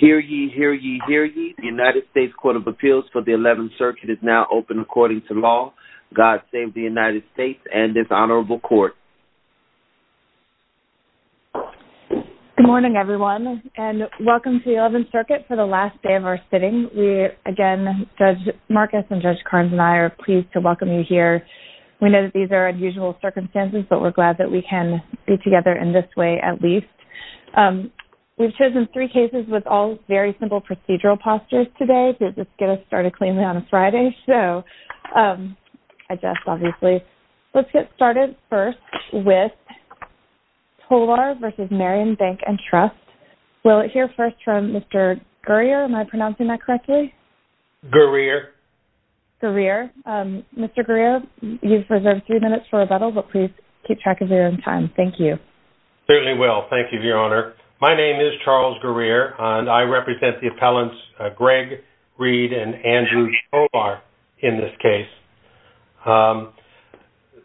Hear ye, hear ye, hear ye. The United States Court of Appeals for the 11th Circuit is now open according to law. God save the United States and this honorable court. Good morning everyone and welcome to the 11th Circuit for the last day of our sitting. We again, Judge Marcus and Judge Carnes and I are pleased to welcome you here. We know that these are unusual circumstances but we're glad that we can be together in this way at least. We've chosen three cases with all very simple procedural postures today to just get us started cleanly on a Friday. So I guess obviously let's get started first with Tolar v. Marion Bank and Trust. We'll hear first from Mr. Guerrier. Am I pronouncing that correctly? Guerrier. Guerrier. Mr. Guerrier, you've reserved three minutes for rebuttal but please keep track of your own time. Thank you. Certainly will. Thank you, Your Honor. My name is Charles Guerrier and I represent the appellants Gregg Reed and Andrew Tolar in this case.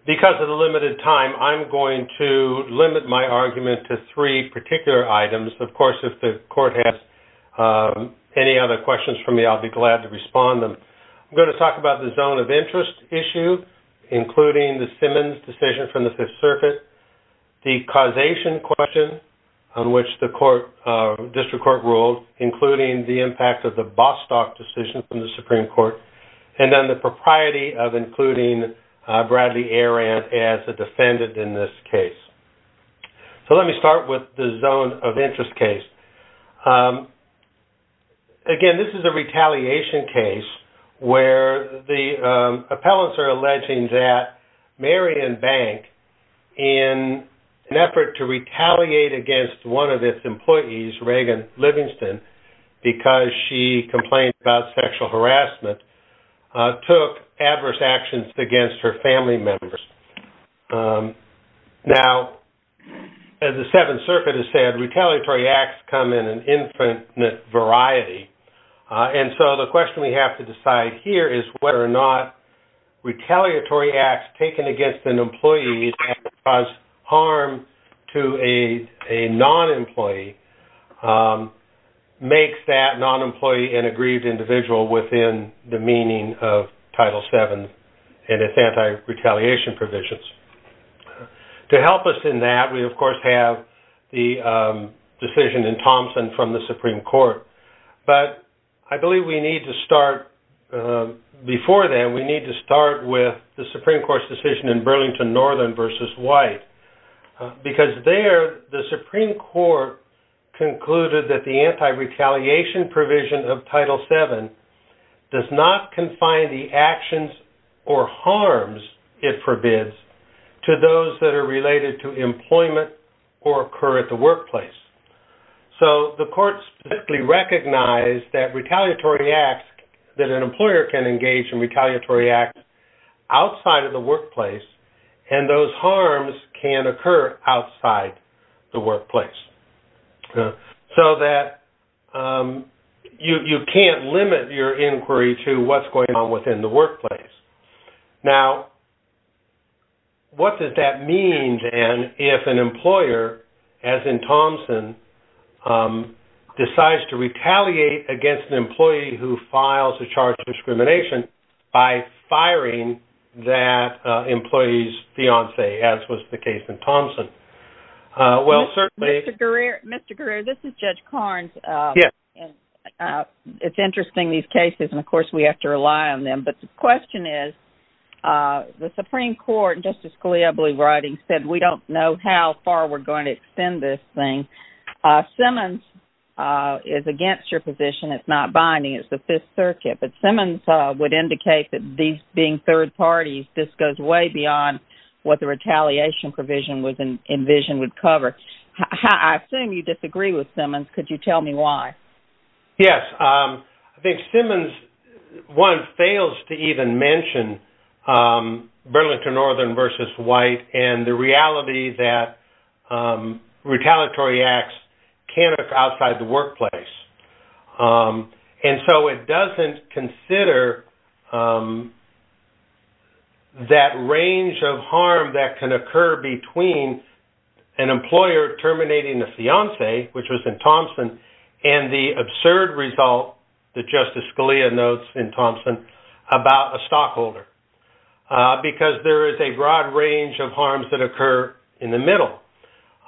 Because of the limited time, I'm going to limit my argument to three particular items. Of course, if the court has any other questions for me, I'll be glad to respond them. I'm going to talk about the zone of interest circuit, the causation question on which the district court ruled, including the impact of the Bostock decision from the Supreme Court, and then the propriety of including Bradley Aarant as a defendant in this case. So let me start with the zone of interest case. Again, this is a retaliation case where the appellants are alleging that Marion Bank, in an effort to retaliate against one of its employees, Reagan Livingston, because she complained about sexual harassment, took adverse actions against her family members. Now, as the Seventh Circuit has said, retaliatory acts come in an infinite variety. And so the question we have to decide here is whether or not retaliatory acts taken against an employee that caused harm to a non-employee makes that non-employee an aggrieved individual within the meaning of Title VII and its anti-retaliation provisions. To help us in that, we of course have the decision in Thompson from the Supreme Court. But I believe we need to start, before then, we need to start with the Supreme Court's decision in Burlington Northern v. White. Because there, the Supreme Court concluded that the anti-retaliation provision of Title VII does not confine the actions or harms it forbids to those that are in the workplace. The court specifically recognized that retaliatory acts, that an employer can engage in retaliatory acts outside of the workplace, and those harms can occur outside the workplace. So that you can't limit your inquiry to what's going on within the workplace. Now, what does that mean, then, if an employer, as in Thompson, decides to retaliate against an employee who files a charge of discrimination by firing that employee's fiancee, as was the case in Thompson? Well, certainly... Mr. Guerrero, this is Judge Karnes. Yes. It's interesting, these cases, and of course we have to rely on them. But the question is, the Supreme Court, Justice Scalia, I believe, writing, said we don't know how far we're going to go with this thing. Simmons is against your position. It's not binding. It's the Fifth Circuit. But Simmons would indicate that these being third parties, this goes way beyond what the retaliation provision was envisioned would cover. I assume you disagree with Simmons. Could you tell me why? Yes. I think Simmons, one, fails to even mention Burlington Northern v. White, and the reality that retaliatory acts can occur outside the workplace. And so it doesn't consider that range of harm that can occur between an employer terminating a fiancee, which was in Thompson, and the absurd result that Justice Scalia notes in Thompson about a stockholder, because there is a broad range of harms that occur in the middle.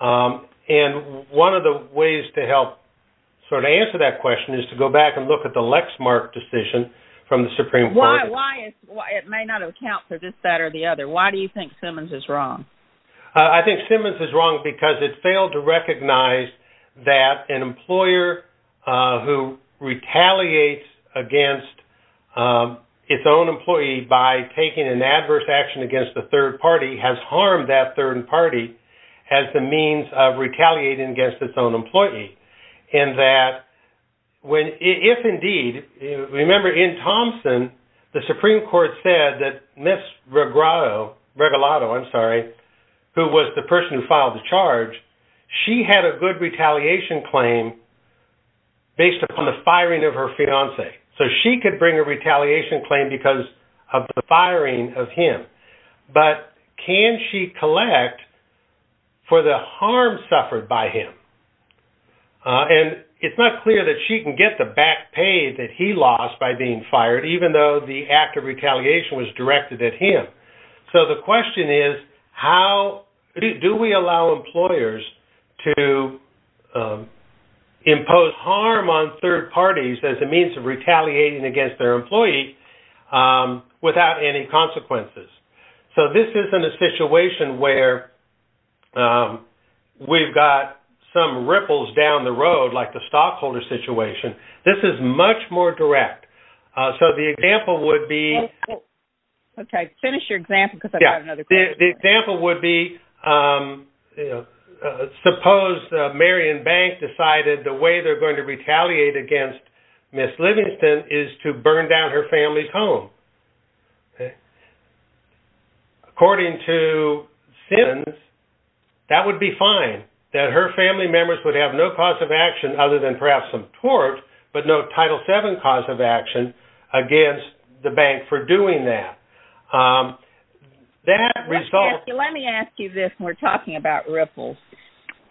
And one of the ways to help sort of answer that question is to go back and look at the Lexmark decision from the Supreme Court. Why? It may not account for this, that, or the other. Why do you think Simmons is wrong? I think Simmons is wrong because it failed to recognize that an employer who retaliates against its own employee by taking an adverse action against the third party has harmed that third party as the means of retaliating against its own employee. And that, if indeed, remember in Thompson, the Supreme Court said that Ms. Regalado, who was the person who So she could bring a retaliation claim because of the firing of him. But can she collect for the harm suffered by him? And it's not clear that she can get the back pay that he lost by being fired, even though the act of retaliation was directed at him. So the question is, how do we allow employers to impose harm on third parties as a means of retaliating against their employee without any consequences? So this isn't a situation where we've got some ripples down the road, like the stockholder situation. This is much more direct. So the example would be Okay, finish your example because I've got another question. The example would be, suppose Marion Bank decided the way they're going to retaliate against Ms. Livingston is to burn down her family's home. According to Simmons, that would be fine, that her family members would have no cause of action other than perhaps some tort, but no Title VII cause of action against the bank for doing that. Let me ask you this. We're talking about ripples.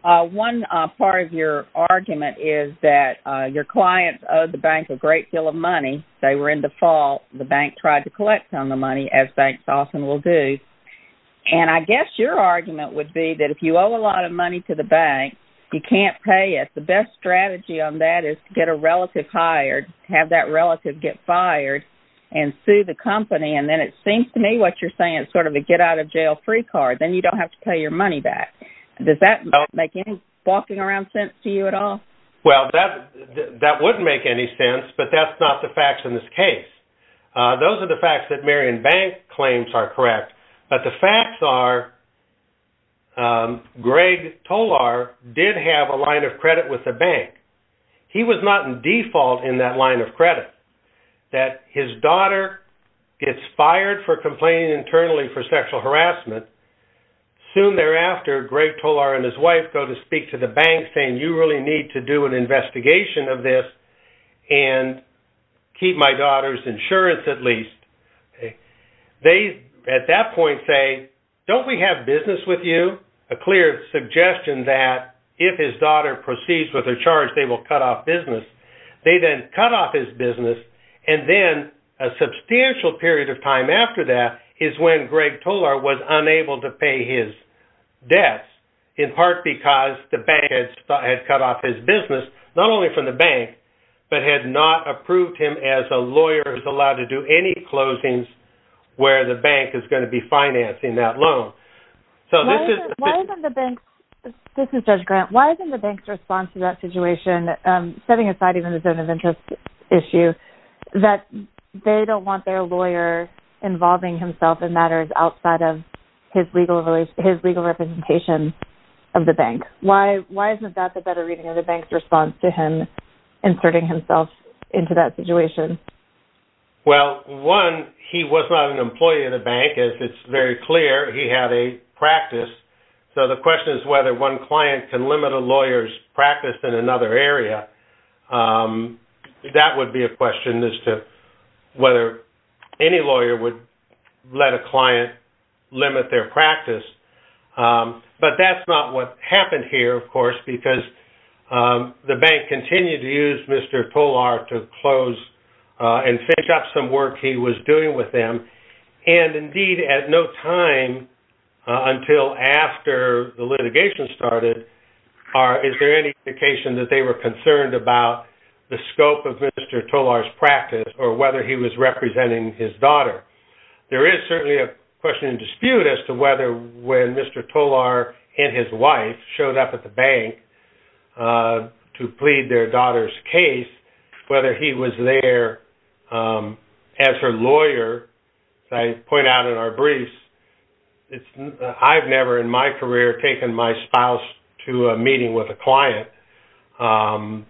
One part of your argument is that your clients owe the bank a great deal of money. They were in default. The bank tried to collect some of the money, as banks often will do. And I guess your argument would be that if you owe a lot of money to the bank, you can't pay it. The best strategy on that is to get a relative hired, have that relative get fired, and sue the company. And then it seems to me what you're saying is sort of a get-out-of-jail-free card. Then you don't have to pay your money back. Does that make any walking around sense to you at all? Well, that wouldn't make any sense, but that's not the facts in this case. Those are the facts are, Greg Tolar did have a line of credit with the bank. He was not in default in that line of credit. That his daughter gets fired for complaining internally for sexual harassment. Soon thereafter, Greg Tolar and his wife go to speak to the bank saying, you really need to do an investigation of this and keep my daughter's insurance at least. They at that point say, don't we have business with you? A clear suggestion that if his daughter proceeds with a charge, they will cut off business. They then cut off his business. And then a substantial period of time after that is when Greg Tolar was unable to pay his debts, in part because the bank had cut off his business, not only from the bank, but had not approved him as a lawyer who's allowed to do any closings where the bank is going to be financing that loan. This is Judge Grant. Why isn't the bank's response to that situation, setting aside even the zone of interest issue, that they don't want their lawyer involving himself in matters outside of his legal representation of the bank? Why isn't that the better reading of the bank's response to him inserting himself into that situation? Well, one, he was not an employee of the bank, as it's very clear. He had a practice. So the question is whether one client can limit a lawyer's practice in another area. That would be a question as to whether any lawyer would let a client limit their practice. But that's not what happened here, of course, because the bank continued to use Mr. Tolar to close and finish up some work he was doing with them. And indeed, at no time until after the litigation started, is there any indication that they were concerned about the scope of Mr. Tolar's practice or whether he was representing his daughter? There is certainly a question and dispute as to whether Mr. Tolar and his wife showed up at the bank to plead their daughter's case, whether he was there as her lawyer. As I point out in our briefs, I've never in my career taken my spouse to a meeting with a client. And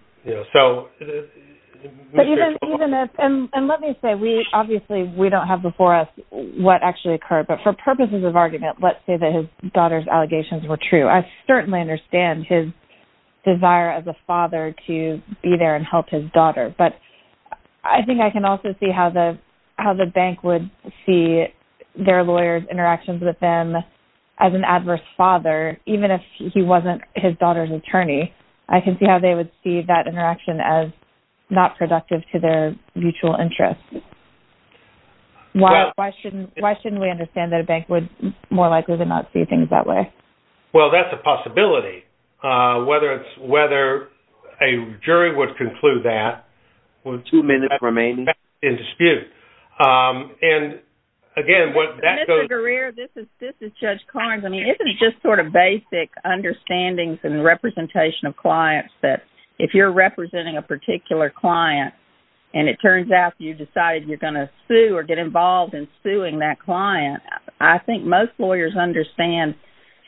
let me say, obviously, we don't have before us what actually occurred, but for purposes of argument, let's say that his daughter's allegations were true. I certainly understand his desire as a father to be there and help his daughter. But I think I can also see how the bank would see their lawyers' interactions with them as an adverse father, even if he wasn't his daughter's attorney. I can see how they would see that interaction as not likely. Well, that's a possibility. Whether a jury would conclude that, well, two minutes remain in dispute. And again, what that goes... Mr. Greer, this is Judge Carnes. I mean, isn't it just sort of basic understandings and representation of clients that if you're representing a particular client, and it turns out you decided you're going to sue or get involved in suing that client, I think most lawyers understand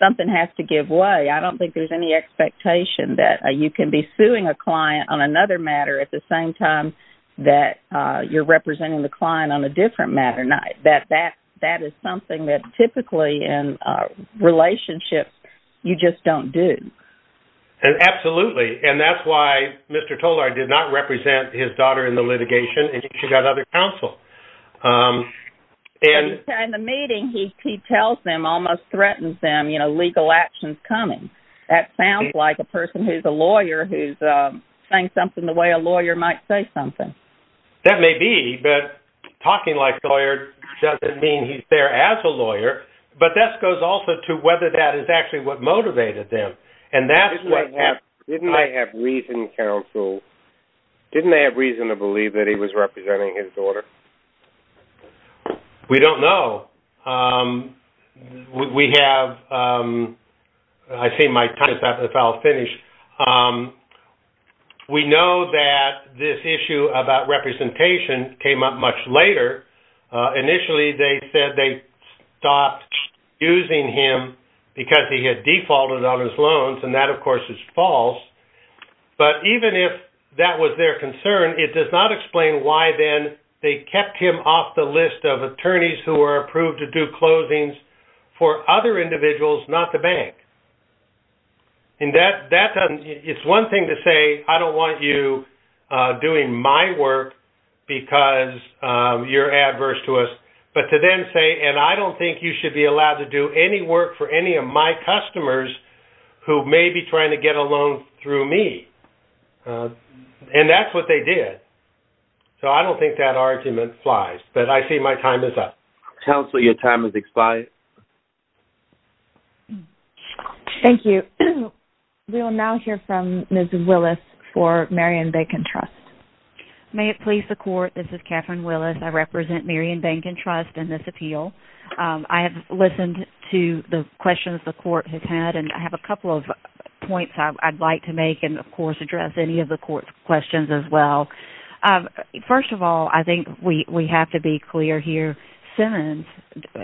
something has to give way. I don't think there's any expectation that you can be suing a client on another matter at the same time that you're representing the client on a different matter. That is something that typically in relationships, you just don't do. Absolutely. And that's why Mr. Tolar did not represent his daughter in the litigation, and she got other counsel. In the meeting, he tells them, almost threatens them, you know, legal actions coming. That sounds like a person who's a lawyer who's saying something the way a lawyer might say something. That may be, but talking like a lawyer doesn't mean he's there as a lawyer. But that goes also to whether that is actually what motivated them. Didn't they have reason to believe that he was representing his daughter? We don't know. We have... I see my time is about to finish. We know that this issue about representation came up much later. Initially, they said they stopped using him because he had defaulted on his loans, and that, of course, is false. But even if that was their concern, it does not explain why then they kept him off the list of attorneys who are approved to do closings for other individuals, not the bank. And that's one thing to say, I don't want you doing my work because you're adverse to us. But to then say, and I don't think you should be allowed to do any work for any of my customers who may be trying to get a loan through me. And that's what they did. So I don't think that argument flies, but I see my time is up. Counselor, your time has expired. Thank you. We will now hear from Ms. Willis for Merriam-Bancon Trust. May it please the court, this is Catherine Willis. I represent Merriam-Bancon Trust in this appeal. I have listened to the questions the court has had, and I have a couple of points I'd like to make and, of course, address any of the court's questions as well. First of all, I think we have to be clear here. Simmons,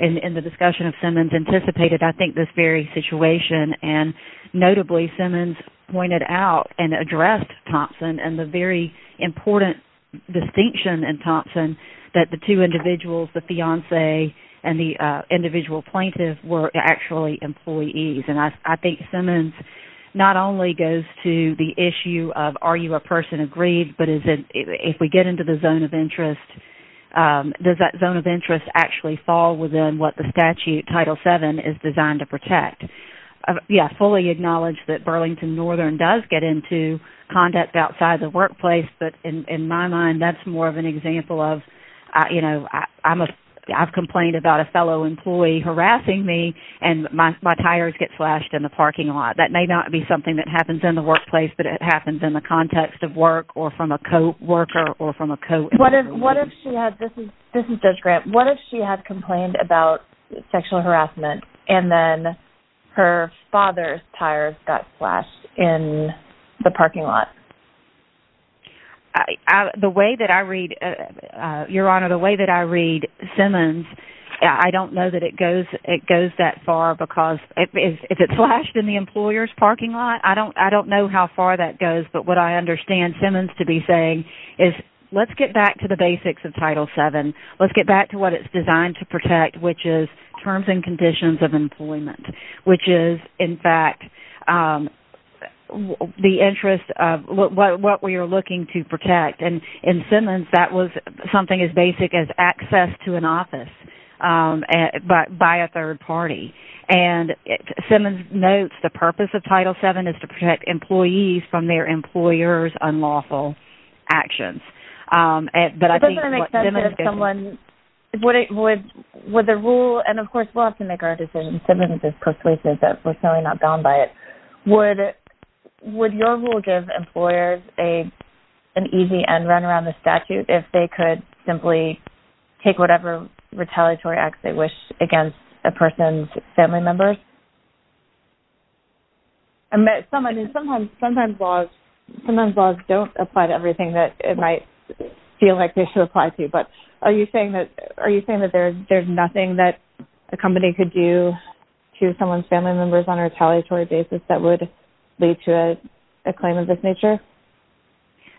in the discussion of Simmons, anticipated, I think, this very situation. And notably, Simmons pointed out and addressed Thompson and the very important distinction in Thompson that the two individuals, the fiance and the individual plaintiff, were actually employees. And I think Simmons not only goes to the issue of are you a person of greed, but if we get into the zone of interest, does that zone of interest actually fall within what the statute, Title VII, is designed to protect? Yeah, fully acknowledge that Burlington Northern does get into conduct outside the workplace, but in my mind, that's more of an example of, you know, I've complained about a fellow employee harassing me and my tires get slashed in the parking lot. That may not be something that happens in the workplace, but it happens in the context of work or from a co-worker or from a co-employee. What if she had, this is Judge Grant, what if she had complained about sexual harassment and then her father's tires got slashed in the parking lot? The way that I read, Your Honor, the way that I read Simmons, I don't know that it goes that far because if it's slashed in the employer's parking lot, I don't know how far that goes. But what I understand Simmons to be saying is, let's get back to the basics of Title VII. Let's get back to what it's designed to protect, which is terms and conditions of employment, which is, in fact, the interest of what we are looking to protect. And in Simmons, that was something as basic as access to an office by a third party. And Simmons notes the purpose of Title VII is to protect employees from their employers' unlawful actions. But I think what Judge Grant has said and Simmons has personally said that we're certainly not bound by it. Would your rule give employers an easy end run around the statute if they could simply take whatever retaliatory acts they wish against a person's family members? Sometimes laws don't apply to everything that it might feel like they should apply to. But are you saying that there's nothing that a company could do to someone's family members on a retaliatory basis that would lead to a claim of this nature?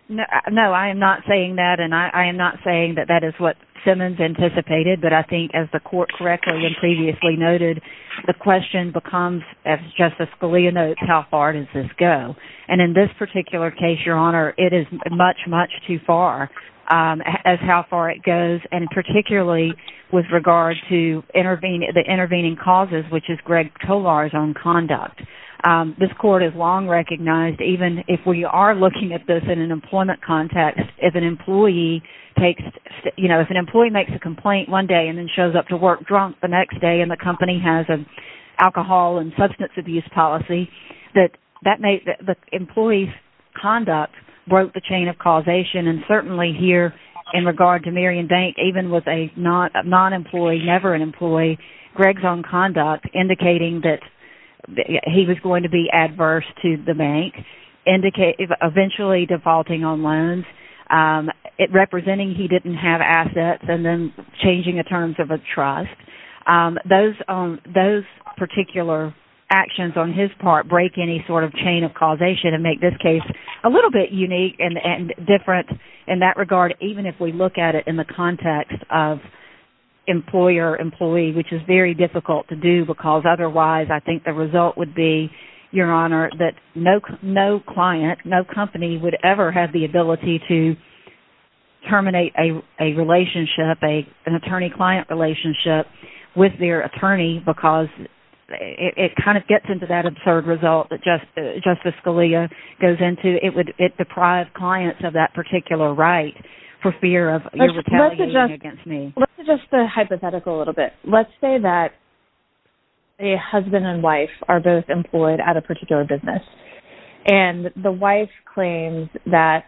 No, I am not saying that. And I am not saying that that is what Simmons anticipated. But I think as the court correctly and previously noted, the question becomes, as Justice Scalia notes, how far does this go? And in this particular case, Your Honor, it is much, much too far as how far it goes. And particularly with regard to the intervening causes, which is Greg Tolar's own conduct. This court has long recognized, even if we are looking at this in an employment context, if an employee takes, you know, if an employee makes a complaint one day and then shows up to work drunk the next day and the company has an alcohol and substance abuse policy, that the employee's conduct broke the criterion. Even with a non-employee, never an employee, Greg's own conduct indicating that he was going to be adverse to the bank, eventually defaulting on loans, representing he didn't have assets, and then changing the terms of a trust. Those particular actions on his part break any sort of chain of causation and make this case a little bit unique and different in that regard, even if we look at it in the context of employer-employee, which is very difficult to do because otherwise I think the result would be, Your Honor, that no client, no company would ever have the ability to terminate a relationship, an attorney-client relationship with their attorney because it kind of gets into that absurd result that Justice Scalia goes into. It would deprive clients of that particular right for fear of retaliating against me. Let's suggest the hypothetical a little bit. Let's say that a husband and wife are both employed at a particular business and the wife claims that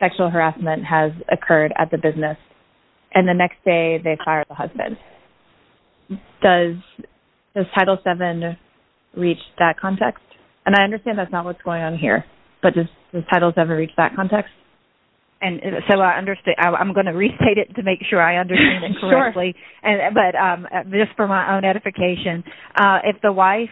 sexual harassment has occurred at the business and the next day they fire the husband. Does Title VII reach that context? And I understand that's not what's going on here, but does Title VII reach that context? And so I'm going to restate it to make sure I understand it correctly, but just for my own edification, if the wife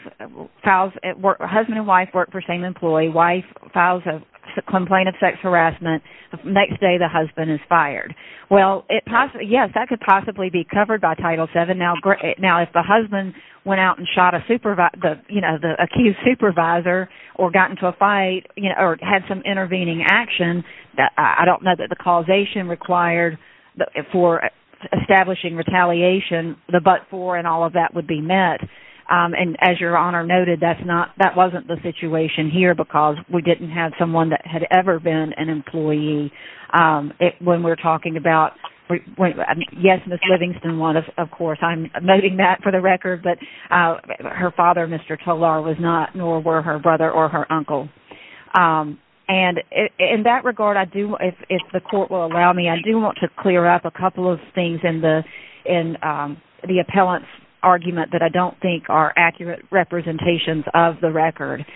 files, husband and wife work for the same employee, wife files a complaint of sex harassment, the next day the husband is fired. Well, yes, that could possibly be covered by Title VII. Now if the husband went out and the accused supervisor or got into a fight or had some intervening action, I don't know that the causation required for establishing retaliation, the but-for and all of that would be met. And as Your Honor noted, that wasn't the situation here because we didn't have someone that had ever been an employee when we're talking about, yes, Ms. Livingston won, of course. I'm noting that for the record, but her father, Mr. Tolar, was not nor were her brother or her uncle. And in that regard, if the court will allow me, I do want to clear up a couple of things in the appellant's argument that I don't think are accurate representations of the record.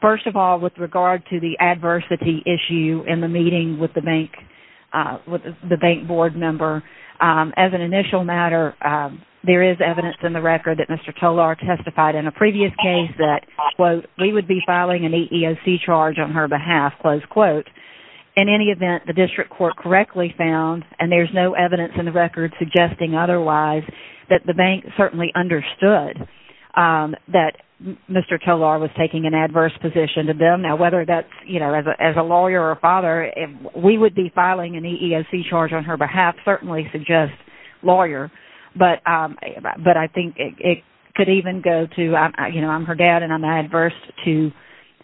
First of all, with regard to the adversity issue in the meeting with the bank board member, as an initial matter, there is evidence in the record that Mr. Tolar testified in a previous case that, quote, we would be filing an EEOC charge on her behalf, close quote. In any event, the district court correctly found, and there's no evidence in the record suggesting otherwise, that the bank certainly understood that Mr. Tolar was taking an adverse position to them. Now, whether that's, you know, as a lawyer or a father, we would be filing an EEOC charge on her behalf certainly suggests lawyer. But I think it could even go to, you know, I'm her dad and I'm adverse to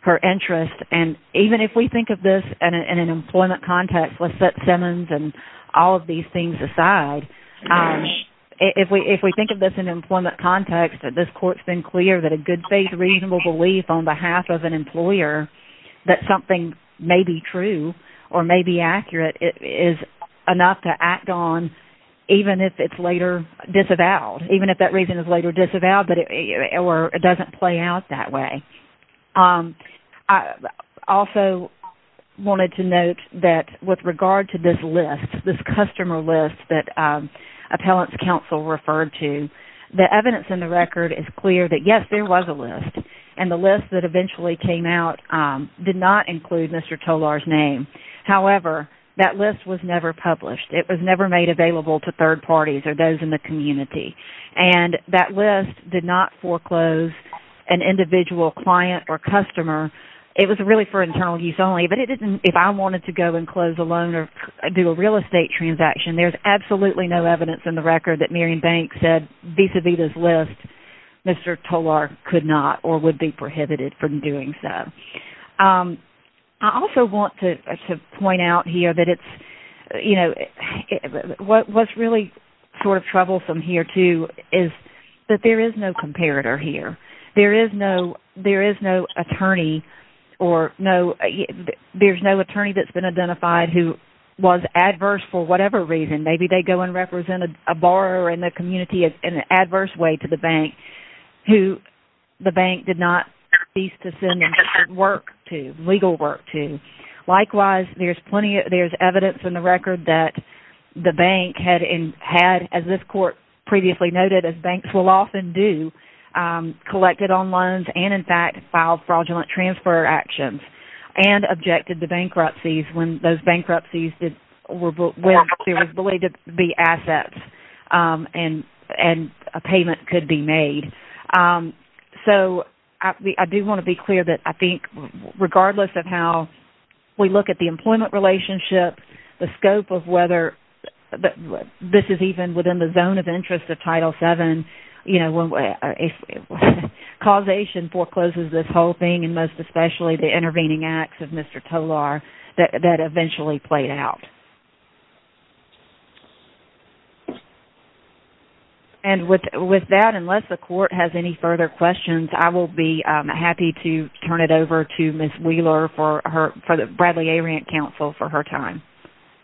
her interest. And even if we think of this in an employment context, let's set Simmons and all of these things aside, if we think of this in an employment context, that this court's been clear that a good faith, reasonable belief on behalf of an employer that something may be true or may be accurate is enough to act on, even if it's later disavowed, even if that reason is later disavowed, or it doesn't play out that way. I also wanted to point that with regard to this list, this customer list that Appellant's Counsel referred to, the evidence in the record is clear that yes, there was a list. And the list that eventually came out did not include Mr. Tolar's name. However, that list was never published. It was never made available to third parties or those in the community. And that list did not foreclose an individual client or customer. It was really for internal use only. But it didn't, if I wanted to go and close a loan or do a real estate transaction, there's absolutely no evidence in the record that Miriam Banks said vis-a-vis this list, Mr. Tolar could not or would be prohibited from doing so. I also want to point out here that it's, you know, what's really sort of troublesome here too is that there is no attorney or no, there's no attorney that's been identified who was adverse for whatever reason. Maybe they go and represent a borrower in the community in an adverse way to the bank who the bank did not cease to send work to, legal work to. Likewise, there's plenty, there's evidence in the record that the bank had, as this court previously noted, as banks will often do, collected on loans and in fact filed fraudulent transfer actions and objected to bankruptcies when those bankruptcies were believed to be assets and a payment could be made. So I do want to be clear that I think regardless of how we look at the employment relationship, the scope of whether this is even within the zone of interest of Title VII, you know, causation forecloses this whole thing and most especially the intervening acts of Mr. Tolar that eventually played out. And with that, unless the court has any further questions, I will be happy to turn it over to Ms. Wheeler for the Bradley A. Rant Counsel for her time.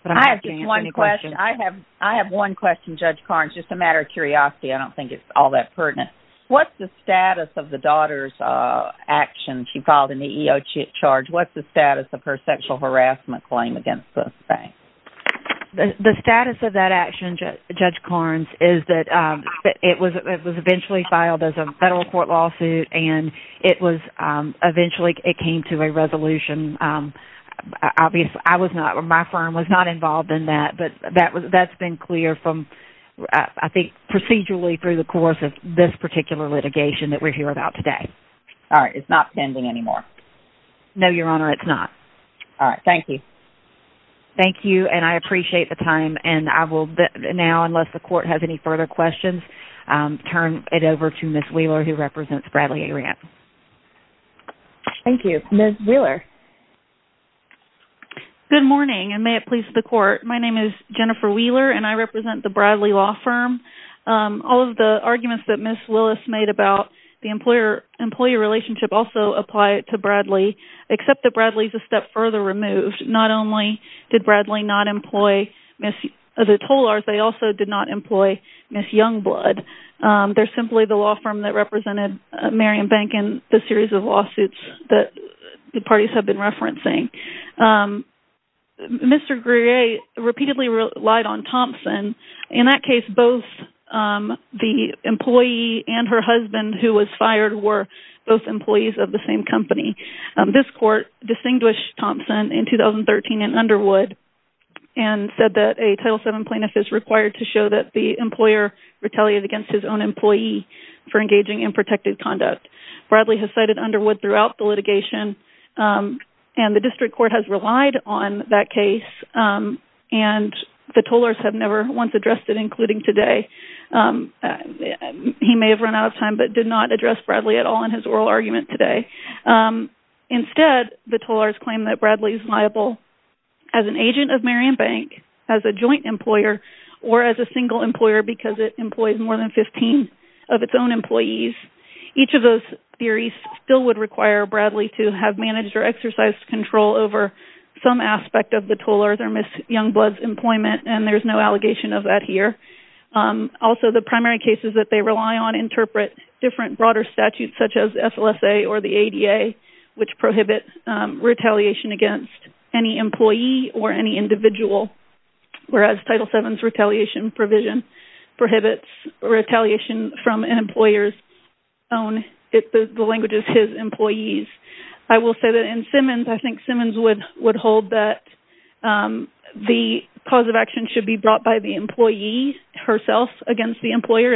I have just one question. I have one question, Judge Carnes, just a matter of curiosity. I don't think it's all that pertinent. What's the status of the daughter's action she filed in the EEOC charge? What's the status of her sexual harassment claim against the bank? The status of that action, Judge Carnes, is that it was eventually filed as a federal court lawsuit and it was eventually, it came to a resolution. Obviously, I was not, my firm was not involved in that, but that's been clear from, I think, procedurally through the course of this particular litigation that we're here about today. All right. It's not pending anymore? No, Your Honor, it's not. All right. Thank you. Thank you, and I appreciate the time, and I will now, unless the court has any further questions, turn it over to Ms. Wheeler, who represents Bradley A. Rant. Thank you. Ms. Wheeler. Good morning, and may it please the court. My name is Jennifer Wheeler, and I represent the Bradley Law Firm. All of the arguments that Ms. Willis made about the employer-employee relationship also apply to Bradley, except that Bradley's a step further removed. Not only did Bradley not employ Ms. Tolars, they also did not employ Ms. Youngblood. They're simply the law firm that represented Marion Bank in the series of lawsuits that the parties have been referencing. Mr. Grier repeatedly relied on Thompson. In that case, both the employee and her husband who was fired were both employees of the same company. This court distinguished Thompson in 2013 in Underwood and said that a Title VII plaintiff is required to show that the employer retaliated against his own employee for engaging in protective conduct. Bradley has cited Underwood throughout the litigation, and the district court has relied on that case, and the Tolars have never once addressed it, including today. He may have run out of time, but did not address Bradley at all in his oral argument today. Instead, the Tolars claim that Bradley is liable as an agent of Marion Bank, as a joint employer, or as a single employer because it employs more than 15 of its own employees. Each of those theories still would require Bradley to have managed or exercised control over some aspect of the Tolars' or Ms. SLSA or the ADA, which prohibit retaliation against any employee or any individual, whereas Title VII's retaliation provision prohibits retaliation from an employer's own, the language is his employees. I will say that in Simmons, I think Simmons would hold that the cause of action should be brought by the employee herself against the employee,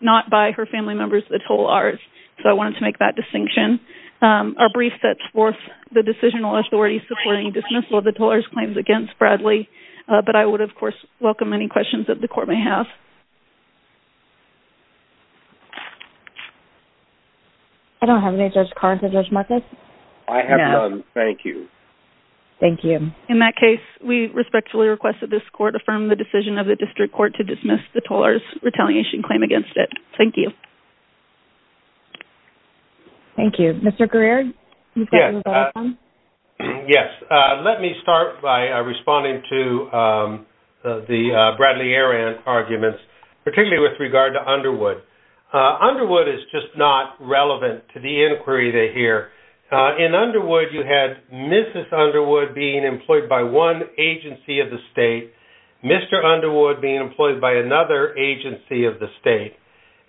not by her family members, the Tolars, so I wanted to make that distinction. Our brief sets forth the decisional authority supporting dismissal of the Tolars' claims against Bradley, but I would, of course, welcome any questions that the court may have. I don't have any, Judge Carnton, Judge Marcus. I have none, thank you. Thank you. In that case, we respectfully request that this court affirm the decision of the district court to dismiss the Tolars' retaliation claim against it. Thank you. Thank you. Mr. Greer? Yes. Let me start by responding to the Bradley-Aran arguments, particularly with regard to Underwood. Underwood is just not relevant to the inquiry that here. In Underwood, you had Mrs. Underwood being employed by one agency of the state, Mr. Underwood being employed by another agency of the state,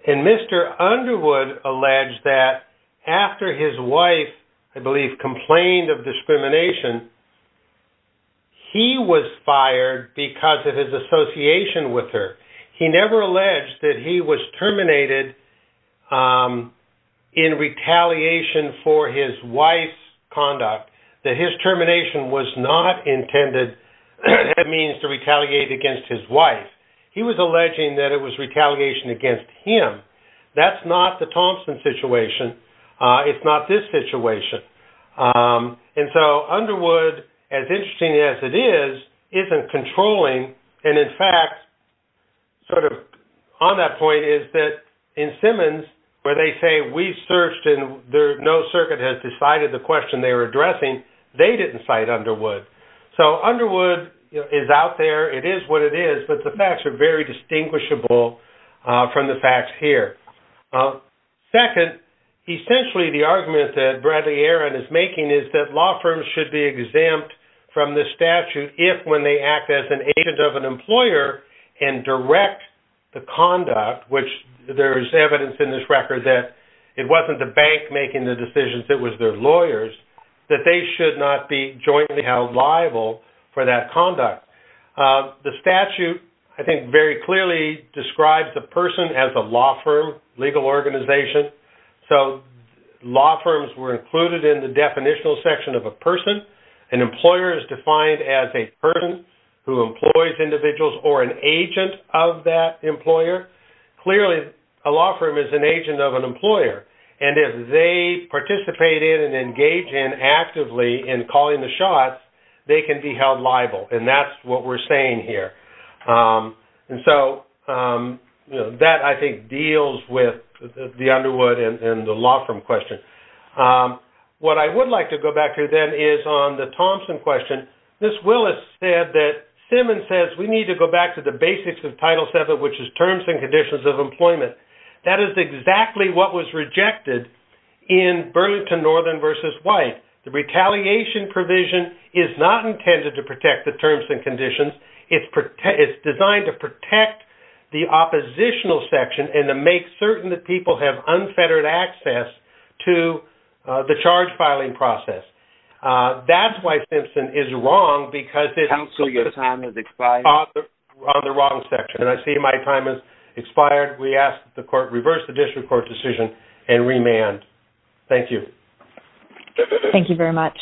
and Mr. Underwood alleged that after his wife, I believe, complained of discrimination, he was fired because of his association with her. He never alleged that he was terminated in retaliation for his wife's conduct, that his termination was not intended as a means to retaliate against his wife. He was alleging that it was retaliation against him. That's not the Thompson situation. It's not this situation. Underwood, as interesting as it is, isn't controlling. In fact, on that point is that in Simmons, where they say, we searched and no circuit has decided the question they were addressing, they didn't cite Underwood. Underwood is out there. It is what it is, but the facts are very distinguishable from the facts here. Second, essentially the argument that Bradley-Aran is making is that law firms should be exempt from this statute if when they act as an agent of an employer and direct the conduct, which there is evidence in this record that it wasn't the bank making the decisions, it was their lawyers, that they should not be jointly held liable for that conduct. The statute, I think, very clearly describes a person as a law firm, legal organization. So law firms were included in the definitional section of a person. An employer is defined as a person who employs individuals or an agent of that employer. Clearly, a law firm is an agent of an employer, and if they participate in and engage in actively in calling the shots, they can be held liable, and that's what we're saying here. So that, I think, deals with the Underwood and the law firm question. What I would like to go back to then is on the Thompson question. Ms. Willis said that Simmons says we need to go back to the basics of Title VII, which is terms and conditions of employment. That is exactly what was rejected in Burlington Northern v. White. The retaliation provision is not intended to protect the terms and conditions. It's designed to protect the oppositional section and to make certain that people have unfettered access to the charge filing process. That's why Simpson is wrong because it's on the wrong section, and I see my time has expired. We ask that the court reverse the district court decision and remand. Thank you. Thank you very much.